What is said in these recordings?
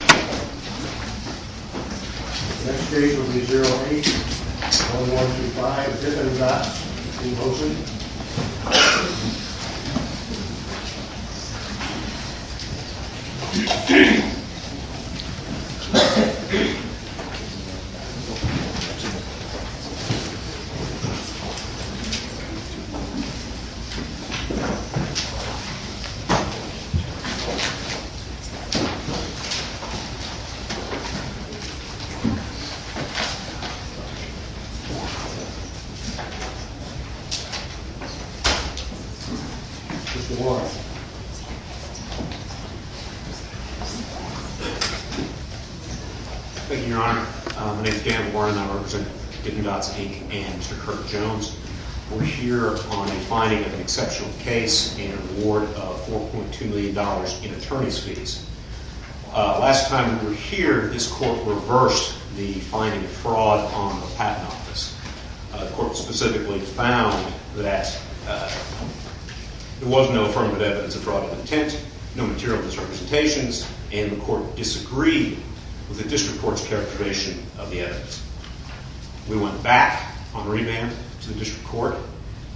Next case will be 08-1125 Dippin Dots v. Mosey Thank you, Your Honor. My name is Dan Warren and I represent Dippin Dots, Inc. and Mr. Kirk Jones. We're here on the finding of an exceptional case and an award of $4.2 million in attorney's fees. Last time we were here, this court reversed the finding of fraud on the Patent Office. The court specifically found that there was no affirmative evidence of fraud of intent, no material misrepresentations, and the court disagreed with the district court's characterization of the evidence. We went back on remand to the district court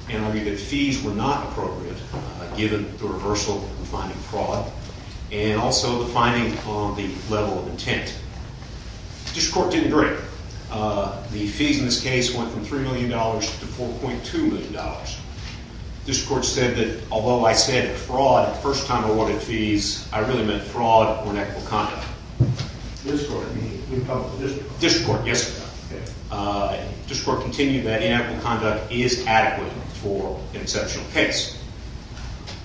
and argued that fees were not appropriate given the reversal of the finding of fraud and also the finding on the level of intent. The district court didn't agree. The fees in this case went from $3 million to $4.2 million. The district court said that although I said fraud the first time I awarded fees, I really meant fraud or inactive conduct. The district court continued that inactive conduct is adequate for an exceptional case.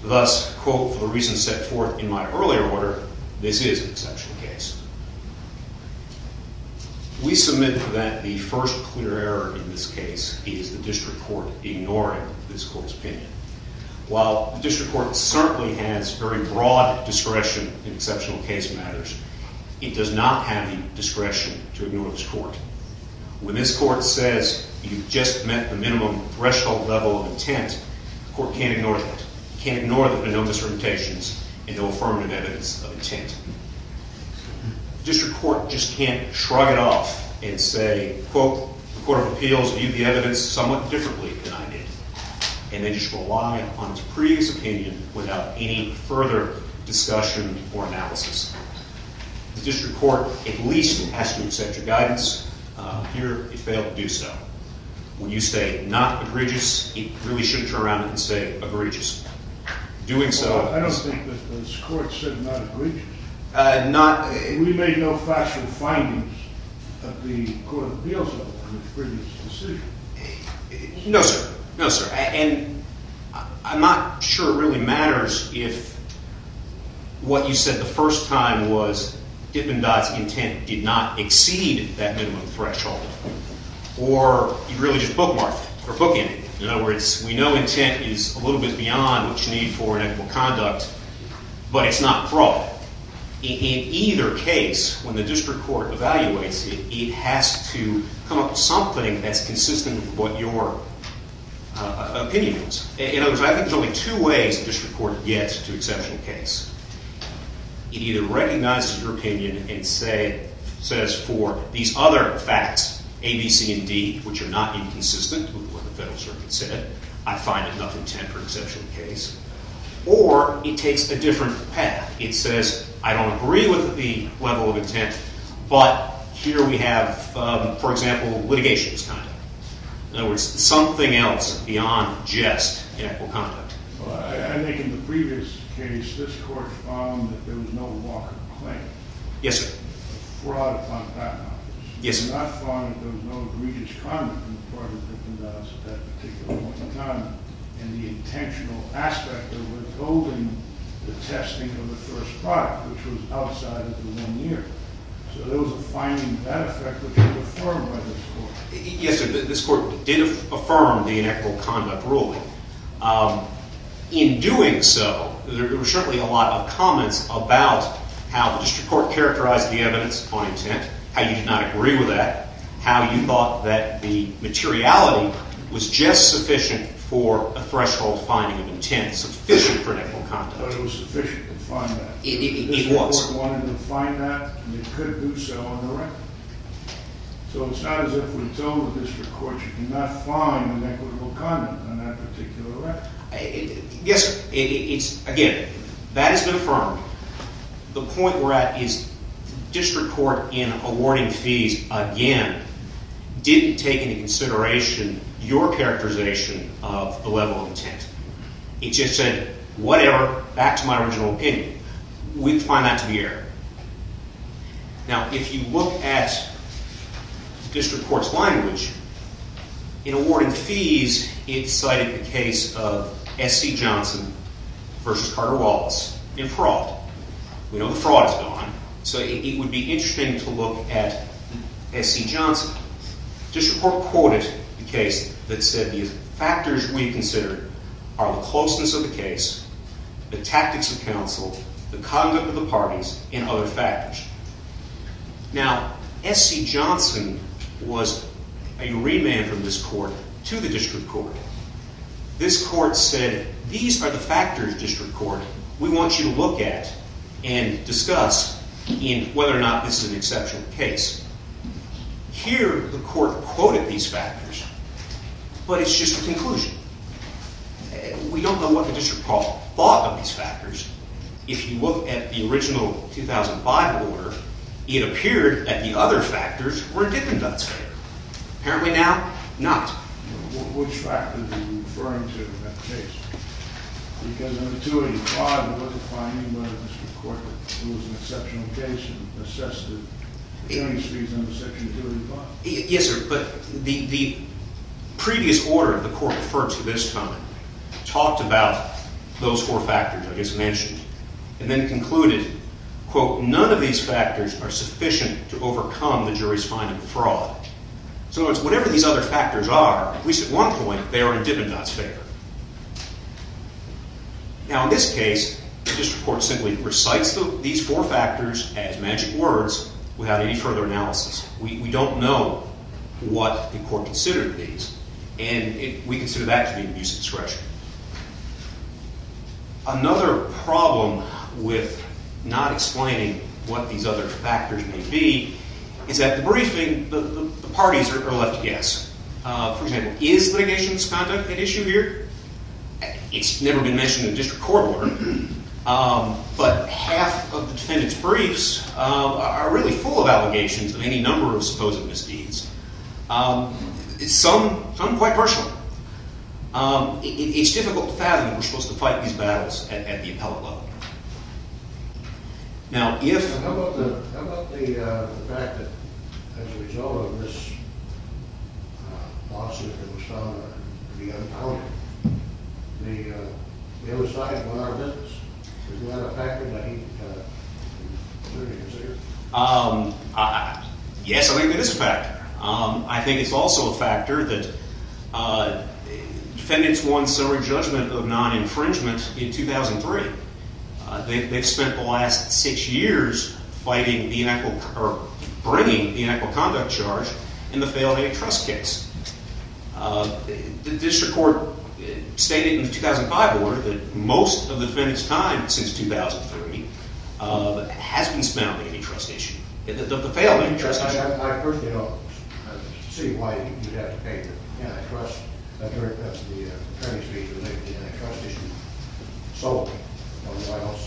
Thus, for the reasons set forth in my earlier order, this is an exceptional case. We submit that the first clear error in this case is the district court ignoring this court's opinion. While the district court certainly has very broad discretion in exceptional case matters, it does not have the discretion to ignore this court. When this court says you've just met the minimum threshold level of intent, the court can't ignore that. It can't ignore the no misrepresentations and no affirmative evidence of intent. The district court just can't shrug it off and say, quote, the court of appeals viewed the evidence somewhat differently than I did, and then just rely on its previous opinion without any further discussion or analysis. The district court, at least it has to accept your guidance. Here, it failed to do so. When you say not egregious, it really shouldn't turn around and say egregious. Doing so... Well, I don't think that this court said not egregious. Not... We made no factual findings of the court of appeals on the previous decision. No, sir. No, sir. And I'm not sure it really matters if what you said the first time was Dippendott's intent did not exceed that minimum threshold or you really just bookmarked it or bookended it. In other words, we know intent is a little bit beyond what you need for an equitable conduct, but it's not fraud. In either case, when the district court evaluates it, it has to come up with something that's consistent with what your opinion is. In other words, I think there's only two ways the district court gets to exceptional case. It either recognizes your opinion and says for these other facts, A, B, C, and D, which are not inconsistent with what the federal circuit said, I find enough intent for exceptional case, or it takes a different path. It says, I don't agree with the level of intent, but here we have, for example, litigation as conduct. In other words, something else beyond just equitable conduct. I think in the previous case, this court found that there was no Walker claim. Yes, sir. Fraud upon patent office. Yes, sir. I found that there was no egregious conduct on the part of Dippendott's at that particular point in time, and the intentional aspect of withholding the testing of the first product, which was outside of the one year. So there was a finding of that effect which was affirmed by this court. Yes, sir. This court did affirm the equitable conduct ruling. In doing so, there were certainly a lot of comments about how the district court characterized the evidence on intent, how you did not agree with that, how you thought that the materiality was just sufficient for a threshold finding of intent, sufficient for equitable conduct. I thought it was sufficient to find that. It was. This court wanted to find that, and it could do so on the record. So it's not as if we told the district court you cannot find an equitable conduct on that particular record. Yes, sir. Again, that has been affirmed. The point we're at is district court in awarding fees, again, didn't take into consideration your characterization of the level of intent. It just said, whatever, back to my original opinion. We'd find that to be error. Now, if you look at district court's language, in awarding fees, it cited the case of S.C. Johnson versus Carter Wallace in fraud. We know the fraud is gone, so it would be interesting to look at S.C. Johnson. District court quoted the case that said the factors we considered are the closeness of the case, the tactics of counsel, the conduct of the parties, and other factors. Now, S.C. Johnson was a remand from this court to the district court. This court said, these are the factors, district court. We want you to look at and discuss in whether or not this is an exceptional case. Here, the court quoted these factors, but it's just a conclusion. We don't know what the district court thought of these factors. If you look at the original 2005 order, it appeared that the other factors were a dip in that sphere. Apparently now, not. Which factors are you referring to in that case? Because under 285, it wasn't finding by the district court that it was an exceptional case and assessed the hearing speeds under section 285. Yes, sir, but the previous order the court referred to this time talked about those four factors I just mentioned and then concluded, quote, none of these factors are sufficient to overcome the jury's finding of fraud. So in other words, whatever these other factors are, at least at one point, they are a dip in that sphere. Now, in this case, the district court simply recites these four factors as magic words without any further analysis. We don't know what the court considered these, and we consider that to be an abuse of discretion. Another problem with not explaining what these other factors may be is that the briefings, the parties are left to guess. For example, is litigation misconduct an issue here? It's really full of allegations of any number of supposed misdeeds, some quite personal. It's difficult to fathom that we're supposed to fight these battles at the appellate level. Now, if... How about the fact that as a result of this lawsuit that was found to be unaccounted, the other side won our business? Is that a factor that he considered? Yes, I think it is a factor. I think it's also a factor that defendants won summary judgment of non-infringement in 2003. They've spent the last six years bringing the inequal conduct charge in the failed antitrust case. The district court stated in the 2005 order that most of the defendants' time since 2003 has been spent on the antitrust issue, the failed antitrust issue. I personally don't see why you'd have to pay for the antitrust. I'm very impressed with the attorney's brief that the antitrust issue is solved. I don't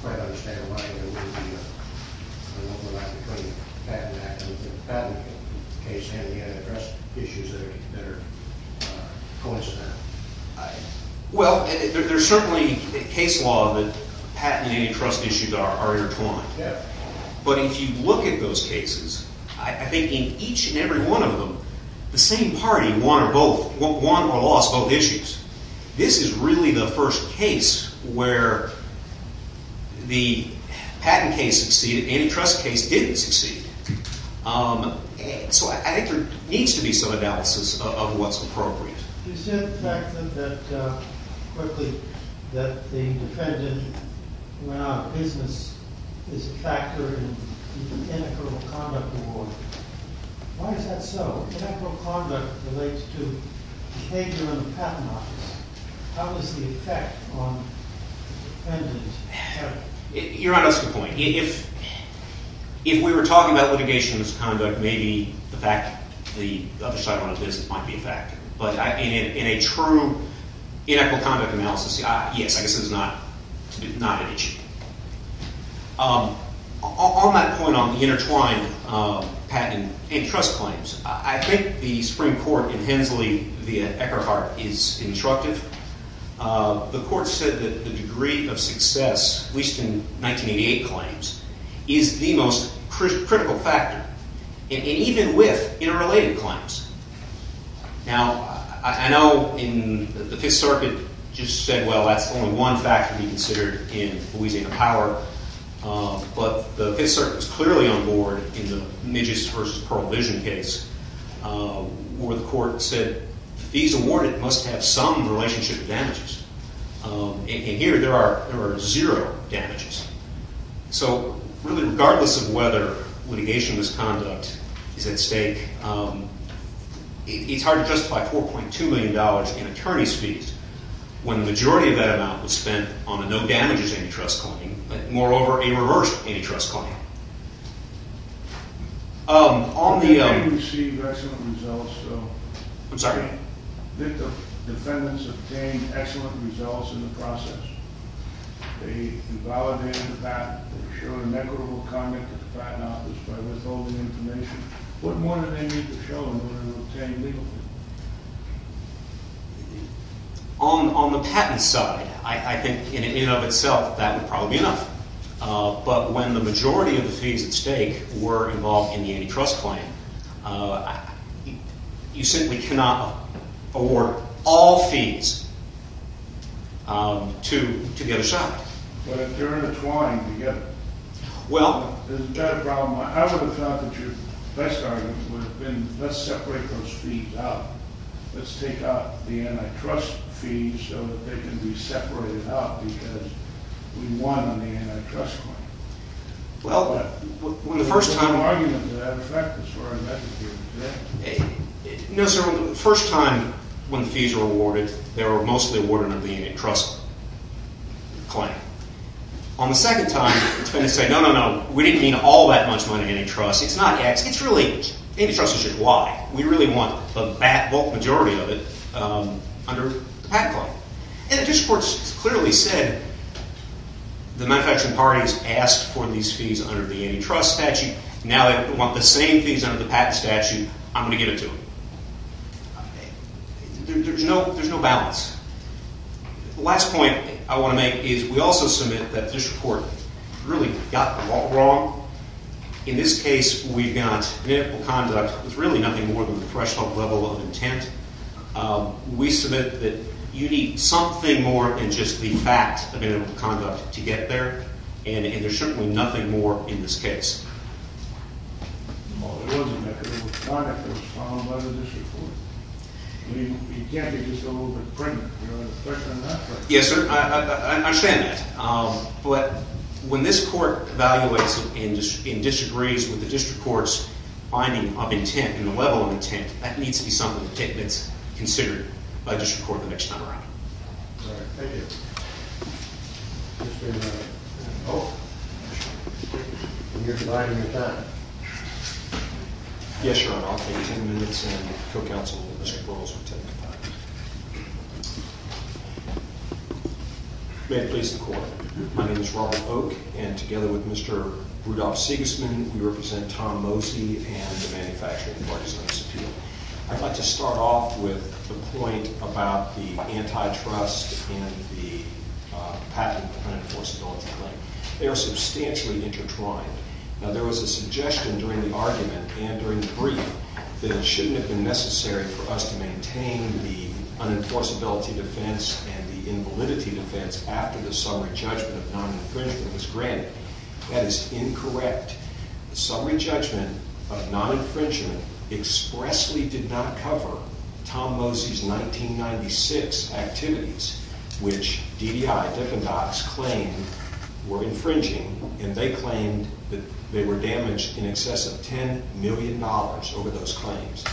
quite understand why there would be an overlap between the patent act and the patent case and the antitrust issues that are coincidental. Well, there's certainly a case law that patent and antitrust issues are intertwined. But if you look at those cases, I think in each and every one of them, the same party won or lost both issues. This is really the first case where the patent case succeeded, antitrust case didn't succeed. So I think there needs to be some analysis of what's appropriate. You said the fact that, quickly, that the defendant went out of business is a factor in the inequal conduct award. Why is that so? Inequal conduct relates to behavior in the patent office. How does the effect on the defendant help? You're on a good point. If we were talking about litigation as conduct, maybe the fact the other side went out of business might be a factor. But in a true inequal conduct analysis, yes, I guess it's not an issue. On that point on the intertwined patent and antitrust claims, I think the Supreme Court in Hensley via Eckhart is instructive. The court said that the degree of success, at least in 1988 claims, is the most critical factor, even with interrelated claims. Now, I know the Fifth Circuit just said, well, that's only one factor to be considered in Louisiana Power. But the Fifth Circuit was clearly on board in the Nijs versus Pearl Vision case where the court said, these awarded must have some relationship damages. And here there are zero damages. So really, regardless of whether litigation as conduct is at stake, it's hard to justify $4.2 million in attorney's fees when the majority of that amount was spent on a no damages antitrust claim, but moreover, a reverse antitrust claim. On the- Defendants receive excellent results, though. I'm sorry? Defendants obtain excellent results in the process. They invalidate the patent. They show an equitable comment to the Patent Office by withholding information. What more do they need to show in order to obtain legally? On the patent side, I think in and of itself, that would probably be enough. But when the majority of the fees at stake were involved in the antitrust claim, you simply cannot award all fees to the other side. But if they're intertwined together, isn't that a problem? I would have thought that your best argument would have been, let's separate those fees out. Let's take out the antitrust fees so that they can be separated out because we won on the antitrust claim. Well, when the first time- There's no argument to that effect as far as that is concerned, is there? No, sir. The first time when the fees were awarded, they were mostly awarded under the antitrust claim. On the second time, it's been to say, no, no, no, we didn't mean all that much money antitrust. It's not X. It's really X. Antitrust is just Y. We really want the bulk majority of it under the Patent Claim. And the district court clearly said the manufacturing party has asked for these fees under the antitrust statute. Now they want the same fees under the patent statute. I'm going to give it to them. There's no balance. The last point I want to make is we also submit that the district court really got the ball wrong. In this case, we've got manipulable conduct with really nothing more than the professional level of intent. We submit that you need something more than just the fact of manipulable conduct to get there, and there's certainly nothing more in this case. Well, there was manipulable conduct that was followed by the district court. You can't get just a little bit of print. Yes, sir, I understand that. But when this court evaluates and disagrees with the district court's finding of intent and the level of intent, that needs to be something that's considered by the district court the next time around. All right, thank you. Mr. Oak. You're denying your time. Yes, sir, I'll take 10 minutes, and the co-counsel, Mr. Burroughs, will take five. May it please the court. My name is Ronald Oak, and together with Mr. Rudolph Sigismund, we represent Tom Mosey and the manufacturing partners of Sapir. I'd like to start off with the point about the antitrust and the patent unenforceability claim. They are substantially intertwined. Now, there was a suggestion during the argument and during the brief that it shouldn't have been necessary for us to maintain the unenforceability defense and the invalidity defense after the summary judgment of non-infringement was granted. That is incorrect. The summary judgment of non-infringement expressly did not cover Tom Mosey's 1996 activities, which DDI, Deffendants, claimed were infringing, and they claimed that they were damaged in excess of $10 million over those claims.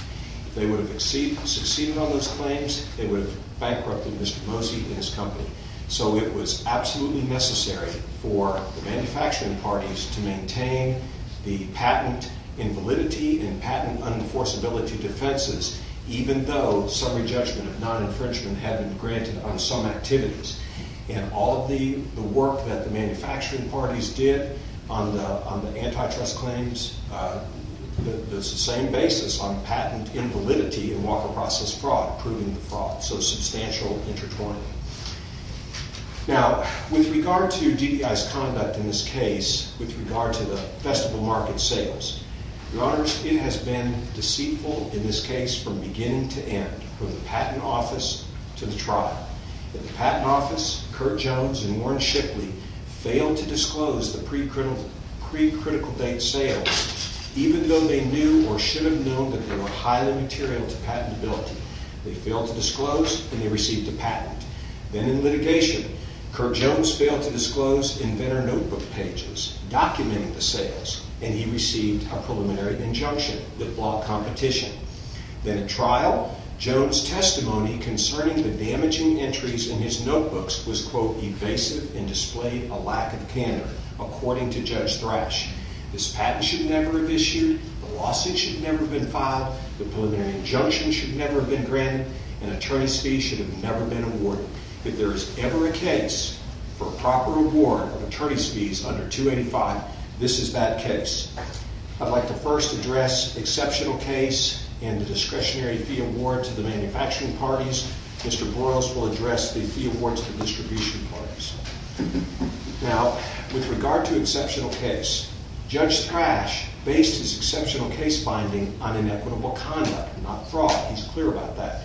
If they would have succeeded on those claims, they would have bankrupted Mr. Mosey and his company. So it was absolutely necessary for the manufacturing parties to maintain the patent invalidity and patent unenforceability defenses, even though summary judgment of non-infringement had been granted on some activities. And all of the work that the manufacturing parties did on the antitrust claims, that's the same basis on patent invalidity and walker process fraud, proving the fraud. So substantial intertwining. Now, with regard to DDI's conduct in this case, with regard to the festival market sales, Your Honor, it has been deceitful in this case from beginning to end, from the patent office to the trial, that the patent office, Kirk Jones and Warren Shipley, failed to disclose the pre-critical date sales, even though they knew or should have known that they were highly material to patentability. They failed to disclose, and they received a patent. Then in litigation, Kirk Jones failed to disclose inventor notebook pages documenting the sales, and he received a preliminary injunction that flawed competition. Then in trial, Jones' testimony concerning the damaging entries in his notebooks was, quote, evasive and displayed a lack of candor, according to Judge Thrash. This patent should never have issued, the lawsuit should never have been filed, the preliminary injunction should never have been granted, and attorney's fees should have never been awarded. If there is ever a case for proper reward of attorney's fees under 285, this is that case. I'd like to first address exceptional case and the discretionary fee award to the manufacturing parties. Mr. Burroughs will address the fee awards to the distribution parties. Now, with regard to exceptional case, Judge Thrash based his exceptional case finding on inequitable conduct, not fraud. He's clear about that.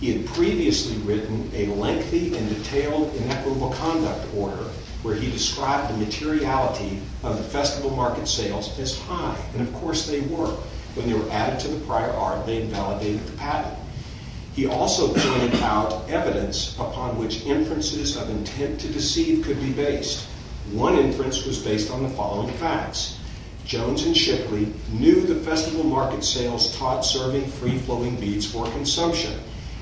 He had previously written a lengthy and detailed inequitable conduct order, where he described the materiality of the festival market sales as high, and of course they were. When they were added to the prior art, they invalidated the patent. He also pointed out evidence upon which inferences of intent to deceive could be based. One inference was based on the following facts. Jones and Shipley knew the festival market sales taught serving free-flowing beads for consumption,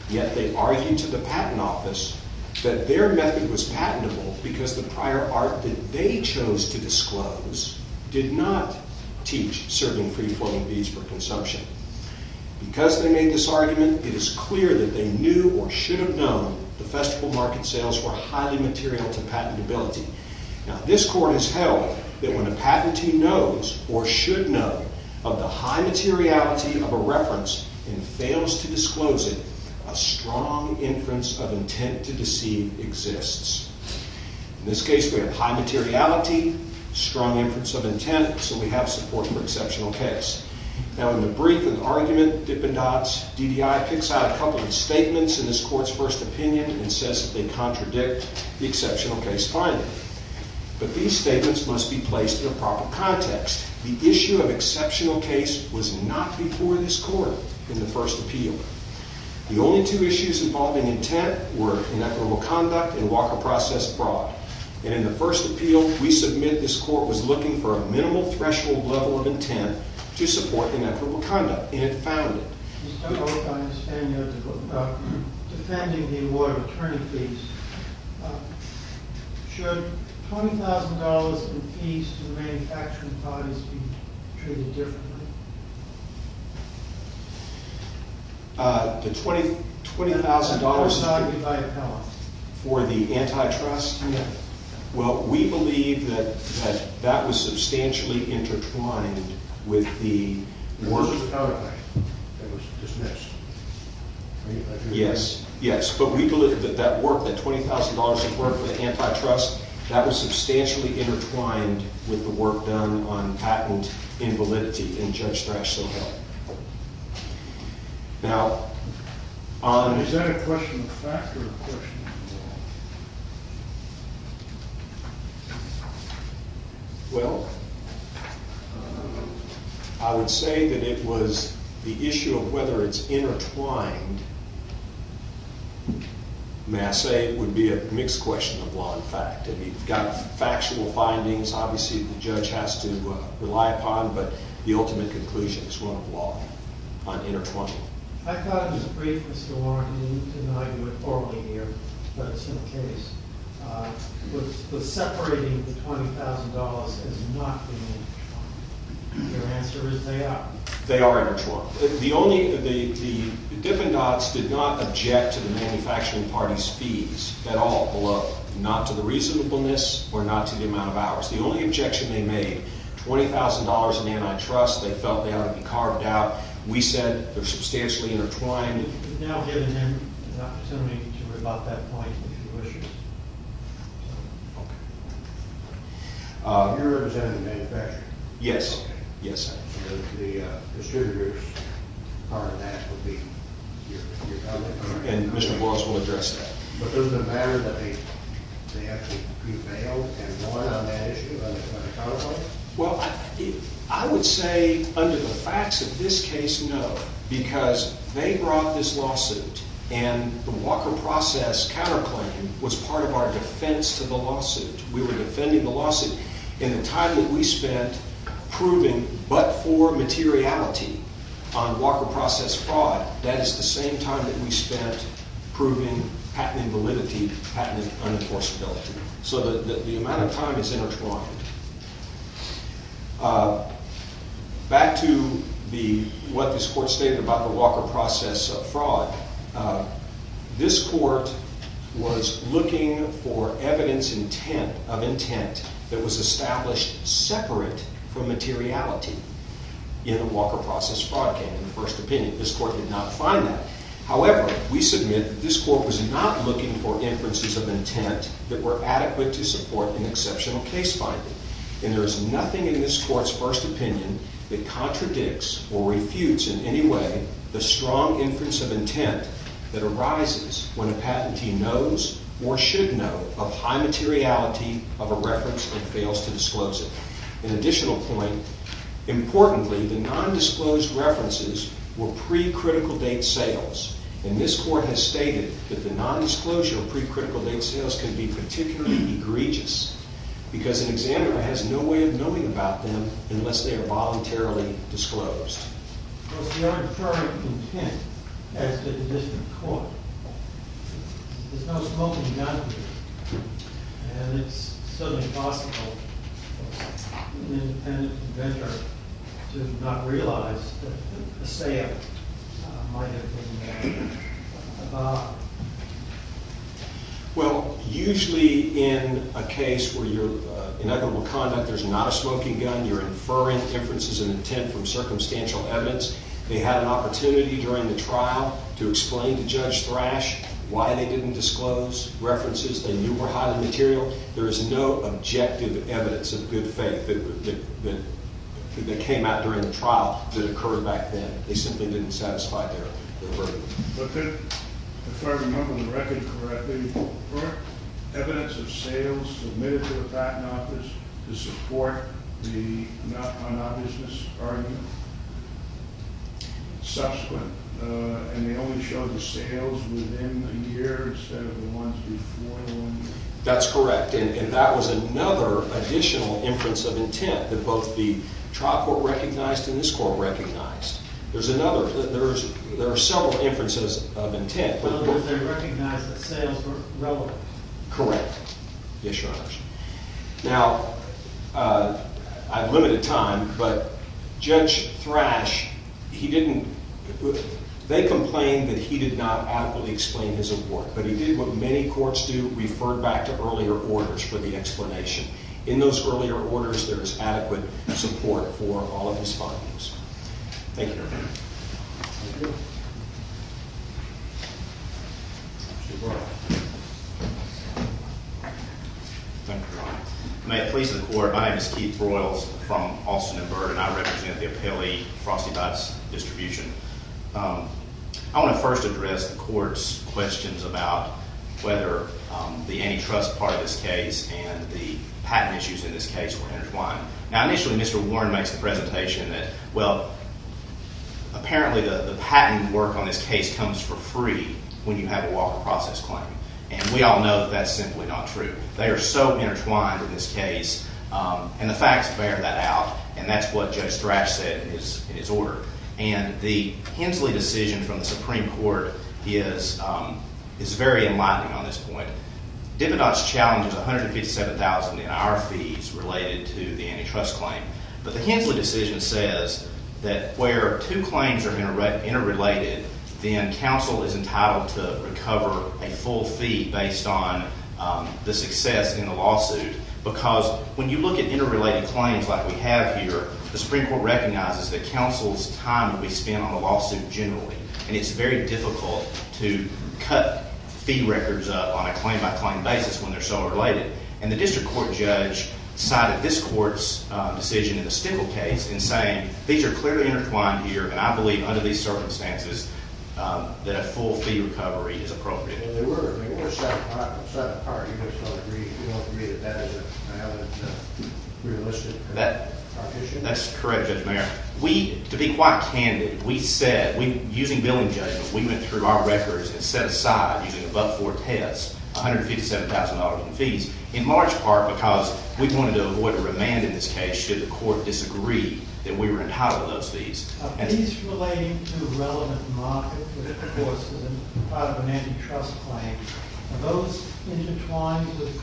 yet they argued to the patent office that their method was patentable because the prior art that they chose to disclose did not teach serving free-flowing beads for consumption. Because they made this argument, it is clear that they knew or should have known the festival market sales were highly material to patentability. Now, this court has held that when a patentee knows or should know of the high materiality of a reference and fails to disclose it, a strong inference of intent to deceive exists. In this case, we have high materiality, strong inference of intent, so we have support for exceptional case. Now, in the brief and argument, Dippendatz, DDI, picks out a couple of statements in this court's first opinion and says that they contradict the exceptional case finding. But these statements must be placed in a proper context. The issue of exceptional case was not before this court in the first appeal. The only two issues involving intent were inequitable conduct and Walker process fraud. And in the first appeal, we submit this court was looking for a minimal threshold level of intent to support inequitable conduct, and it found it. Mr. O'Connor, I understand you're defending the award of attorney fees. Should $20,000 in fees to the manufacturing bodies be treated differently? The $20,000 for the antitrust? Yes. Well, we believe that that was substantially intertwined with the work. It was dismissed, right? Yes, yes. But we believe that that work, that $20,000 of work for the antitrust, that was substantially intertwined with the work done on patent invalidity in Judge Thrash Sobel. Now, on- Is that a question of fact or a question of law? Well, I would say that it was the issue of whether it's intertwined. May I say it would be a mixed question of law and fact. I mean, we've got factual findings, obviously, the judge has to rely upon, but the ultimate conclusion is one of law on intertwining. I thought it was brief, Mr. Warren, and you didn't know you were formally here, but it's been the case. But separating the $20,000 has not been intertwined. Your answer is they are. They are intertwined. The Dippin' Dots did not object to the manufacturing party's fees at all, not to the reasonableness or not to the amount of hours. The only objection they made, $20,000 in antitrust, they felt they ought to be carved out. We said they're substantially intertwined. You're now giving him an opportunity to rebut that point with a few issues. Okay. You're representing the manufacturer. Yes, yes. The distributor's part of that would be your public comment. And Mr. Boyles will address that. But doesn't it matter that they actually prevailed and won on that issue, on the counterclaim? Well, I would say under the facts of this case, no, because they brought this lawsuit, and the Walker process counterclaim was part of our defense to the lawsuit. We were defending the lawsuit in the time that we spent proving but-for materiality on Walker process fraud. That is the same time that we spent proving patent invalidity, patent unenforceability. So the amount of time is intertwined. Back to what this court stated about the Walker process fraud. This court was looking for evidence of intent that was established separate from materiality in the Walker process fraud case, in the first opinion. This court did not find that. However, we submit that this court was not looking for inferences of intent that were adequate to support an exceptional case finding. And there is nothing in this court's first opinion that contradicts or refutes in any way the strong inference of intent that arises when a patentee knows or should know of high materiality of a reference and fails to disclose it. An additional point, importantly, the non-disclosed references were pre-critical date sales. And this court has stated that the non-disclosure of pre-critical date sales can be particularly egregious because an examiner has no way of knowing about them unless they are voluntarily disclosed. Well, if you are inferring intent, as did the district court, there's no smoking gun here. And it's certainly possible for an independent inventor to not realize that a sale might have been made about it. Well, usually in a case where you're in equitable conduct, there's not a smoking gun. You're inferring inferences of intent from circumstantial evidence. They had an opportunity during the trial to explain to Judge Thrash why they didn't disclose references they knew were highly material. There is no objective evidence of good faith that came out during the trial that occurred back then. They simply didn't satisfy their verdict. If I remember the record correctly, were evidence of sales submitted to the patent office to support the non-obviousness argument subsequent? And they only showed the sales within a year instead of the ones before one year? That's correct. And that was another additional inference of intent that both the trial court recognized and this court recognized. There's another. There are several inferences of intent. Well, they recognized that sales were relevant. Correct. Yes, Your Honors. Now, I've limited time, but Judge Thrash, he didn't – they complained that he did not adequately explain his award. But he did what many courts do, refer back to earlier orders for the explanation. In those earlier orders, there is adequate support for all of his findings. Thank you, Your Honor. Thank you. Thank you, Your Honor. May it please the court, my name is Keith Broyles from Austin and Byrd, and I represent the appellee Frosty Dots Distribution. I want to first address the court's questions about whether the antitrust part of this case and the patent issues in this case were intertwined. Now, initially, Mr. Warren makes the presentation that, well, apparently the patent work on this case comes for free when you have a walker process claim. And we all know that that's simply not true. They are so intertwined in this case, and the facts bear that out, and that's what Judge Thrash said in his order. And the Hensley decision from the Supreme Court is very enlightening on this point. Depedos challenges $157,000 in our fees related to the antitrust claim. But the Hensley decision says that where two claims are interrelated, then counsel is entitled to recover a full fee based on the success in the lawsuit. Because when you look at interrelated claims like we have here, the Supreme Court recognizes that counsel's time will be spent on the lawsuit generally. And it's very difficult to cut fee records up on a claim-by-claim basis when they're so related. And the district court judge cited this court's decision in the Stickel case in saying these are clearly intertwined here. And I believe under these circumstances that a full fee recovery is appropriate. Well, they were. They were set apart. You have to agree that that is a realistic proposition. That's correct, Judge Mayer. We, to be quite candid, we said, using billing judgment, we went through our records and set aside, using above-board tests, $157,000 in fees, in large part because we wanted to avoid a remand in this case should the court disagree that we were entitled to those fees. Are fees relating to a relevant market, which of course is part of an antitrust claim, are those intertwined with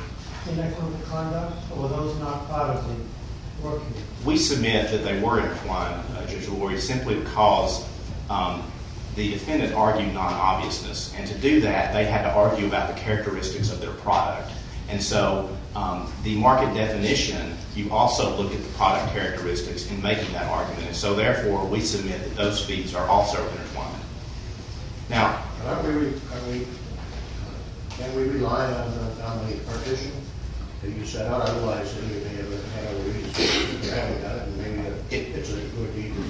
inequitable conduct, or were those not part of the work here? We submit that they were intertwined, Judge LaGuardia, simply because the defendant argued non-obviousness. And to do that, they had to argue about the characteristics of their product. And so the market definition, you also look at the product characteristics in making that argument. And so therefore, we submit that those fees are also intertwined. Now, can we rely on the dominant partition that you set up? Otherwise, didn't you think it would have a reason to have it done? And maybe it's a good deed for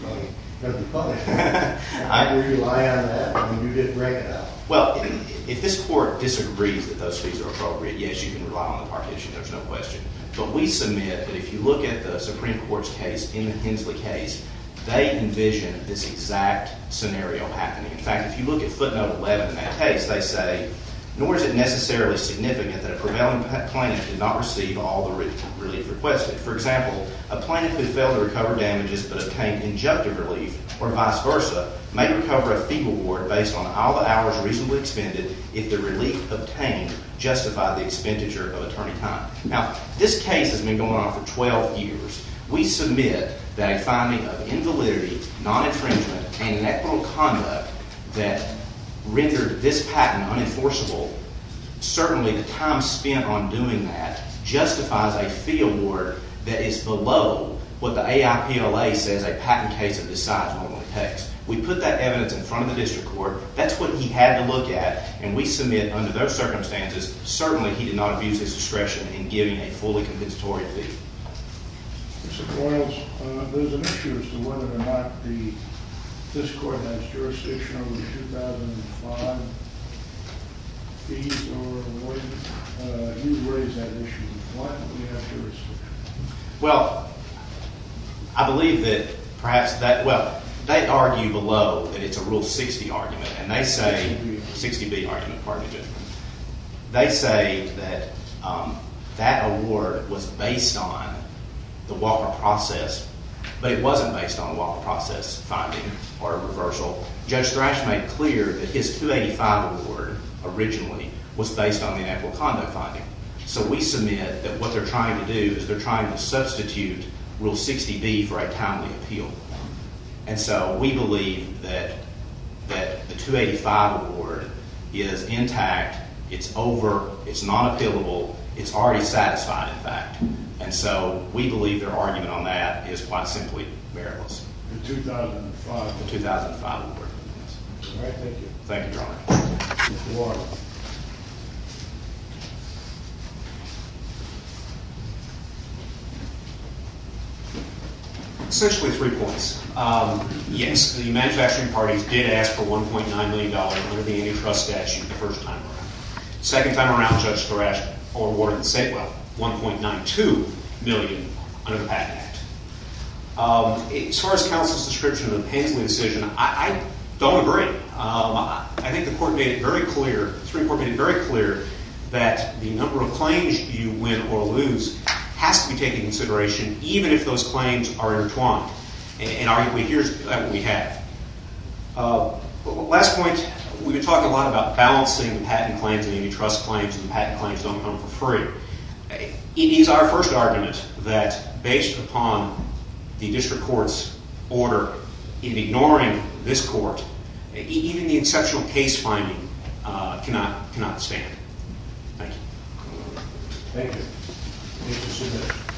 the public. Can we rely on that? I mean, you didn't break it up. Well, if this court disagrees that those fees are appropriate, yes, you can rely on the partition. There's no question. But we submit that if you look at the Supreme Court's case, in the Hensley case, they envision this exact scenario happening. In fact, if you look at footnote 11 in that case, they say, Nor is it necessarily significant that a prevailing plaintiff did not receive all the relief requested. For example, a plaintiff who failed to recover damages but obtained injunctive relief, or vice versa, may recover a fee reward based on all the hours reasonably expended if the relief obtained justified the expenditure of attorney time. Now, this case has been going on for 12 years. We submit that a finding of invalidity, non-infringement, and inequitable conduct that rendered this patent unenforceable, certainly the time spent on doing that justifies a fee award that is below what the AIPLA says a patent case of this size normally takes. We put that evidence in front of the district court. That's what he had to look at. And we submit under those circumstances, certainly he did not abuse his discretion in giving a fully compensatory fee. Mr. Boyles, there's an issue as to whether or not this court has jurisdiction over the 2005 fees or whether you raise that issue. Why don't we have jurisdiction? Well, I believe that perhaps that – well, they argue below that it's a Rule 60 argument. And they say – 60B argument, pardon me. They say that that award was based on the Walker process, but it wasn't based on a Walker process finding or a reversal. Judge Thrash made clear that his 285 award originally was based on the inequitable conduct finding. So we submit that what they're trying to do is they're trying to substitute Rule 60B for a timely appeal. And so we believe that the 285 award is intact. It's over. It's not appealable. It's already satisfied, in fact. And so we believe their argument on that is quite simply meritless. The 2005? The 2005 award. All right. Thank you. Thank you, Your Honor. Mr. Walker. Essentially three points. Yes, the manufacturing parties did ask for $1.9 million under the antitrust statute the first time around. The second time around, Judge Thrash awarded the same amount, $1.92 million, under the Patent Act. As far as counsel's description of the Painsley decision, I don't agree. I think the Court made it very clear that the number of claims you win or lose has to be taken into consideration, even if those claims are intertwined. And arguably, here's what we have. Last point. We've been talking a lot about balancing patent claims and antitrust claims and patent claims don't come for free. It is our first argument that based upon the district court's order in ignoring this court, even the exceptional case finding cannot stand. Thank you. Thank you. Thank you, sir.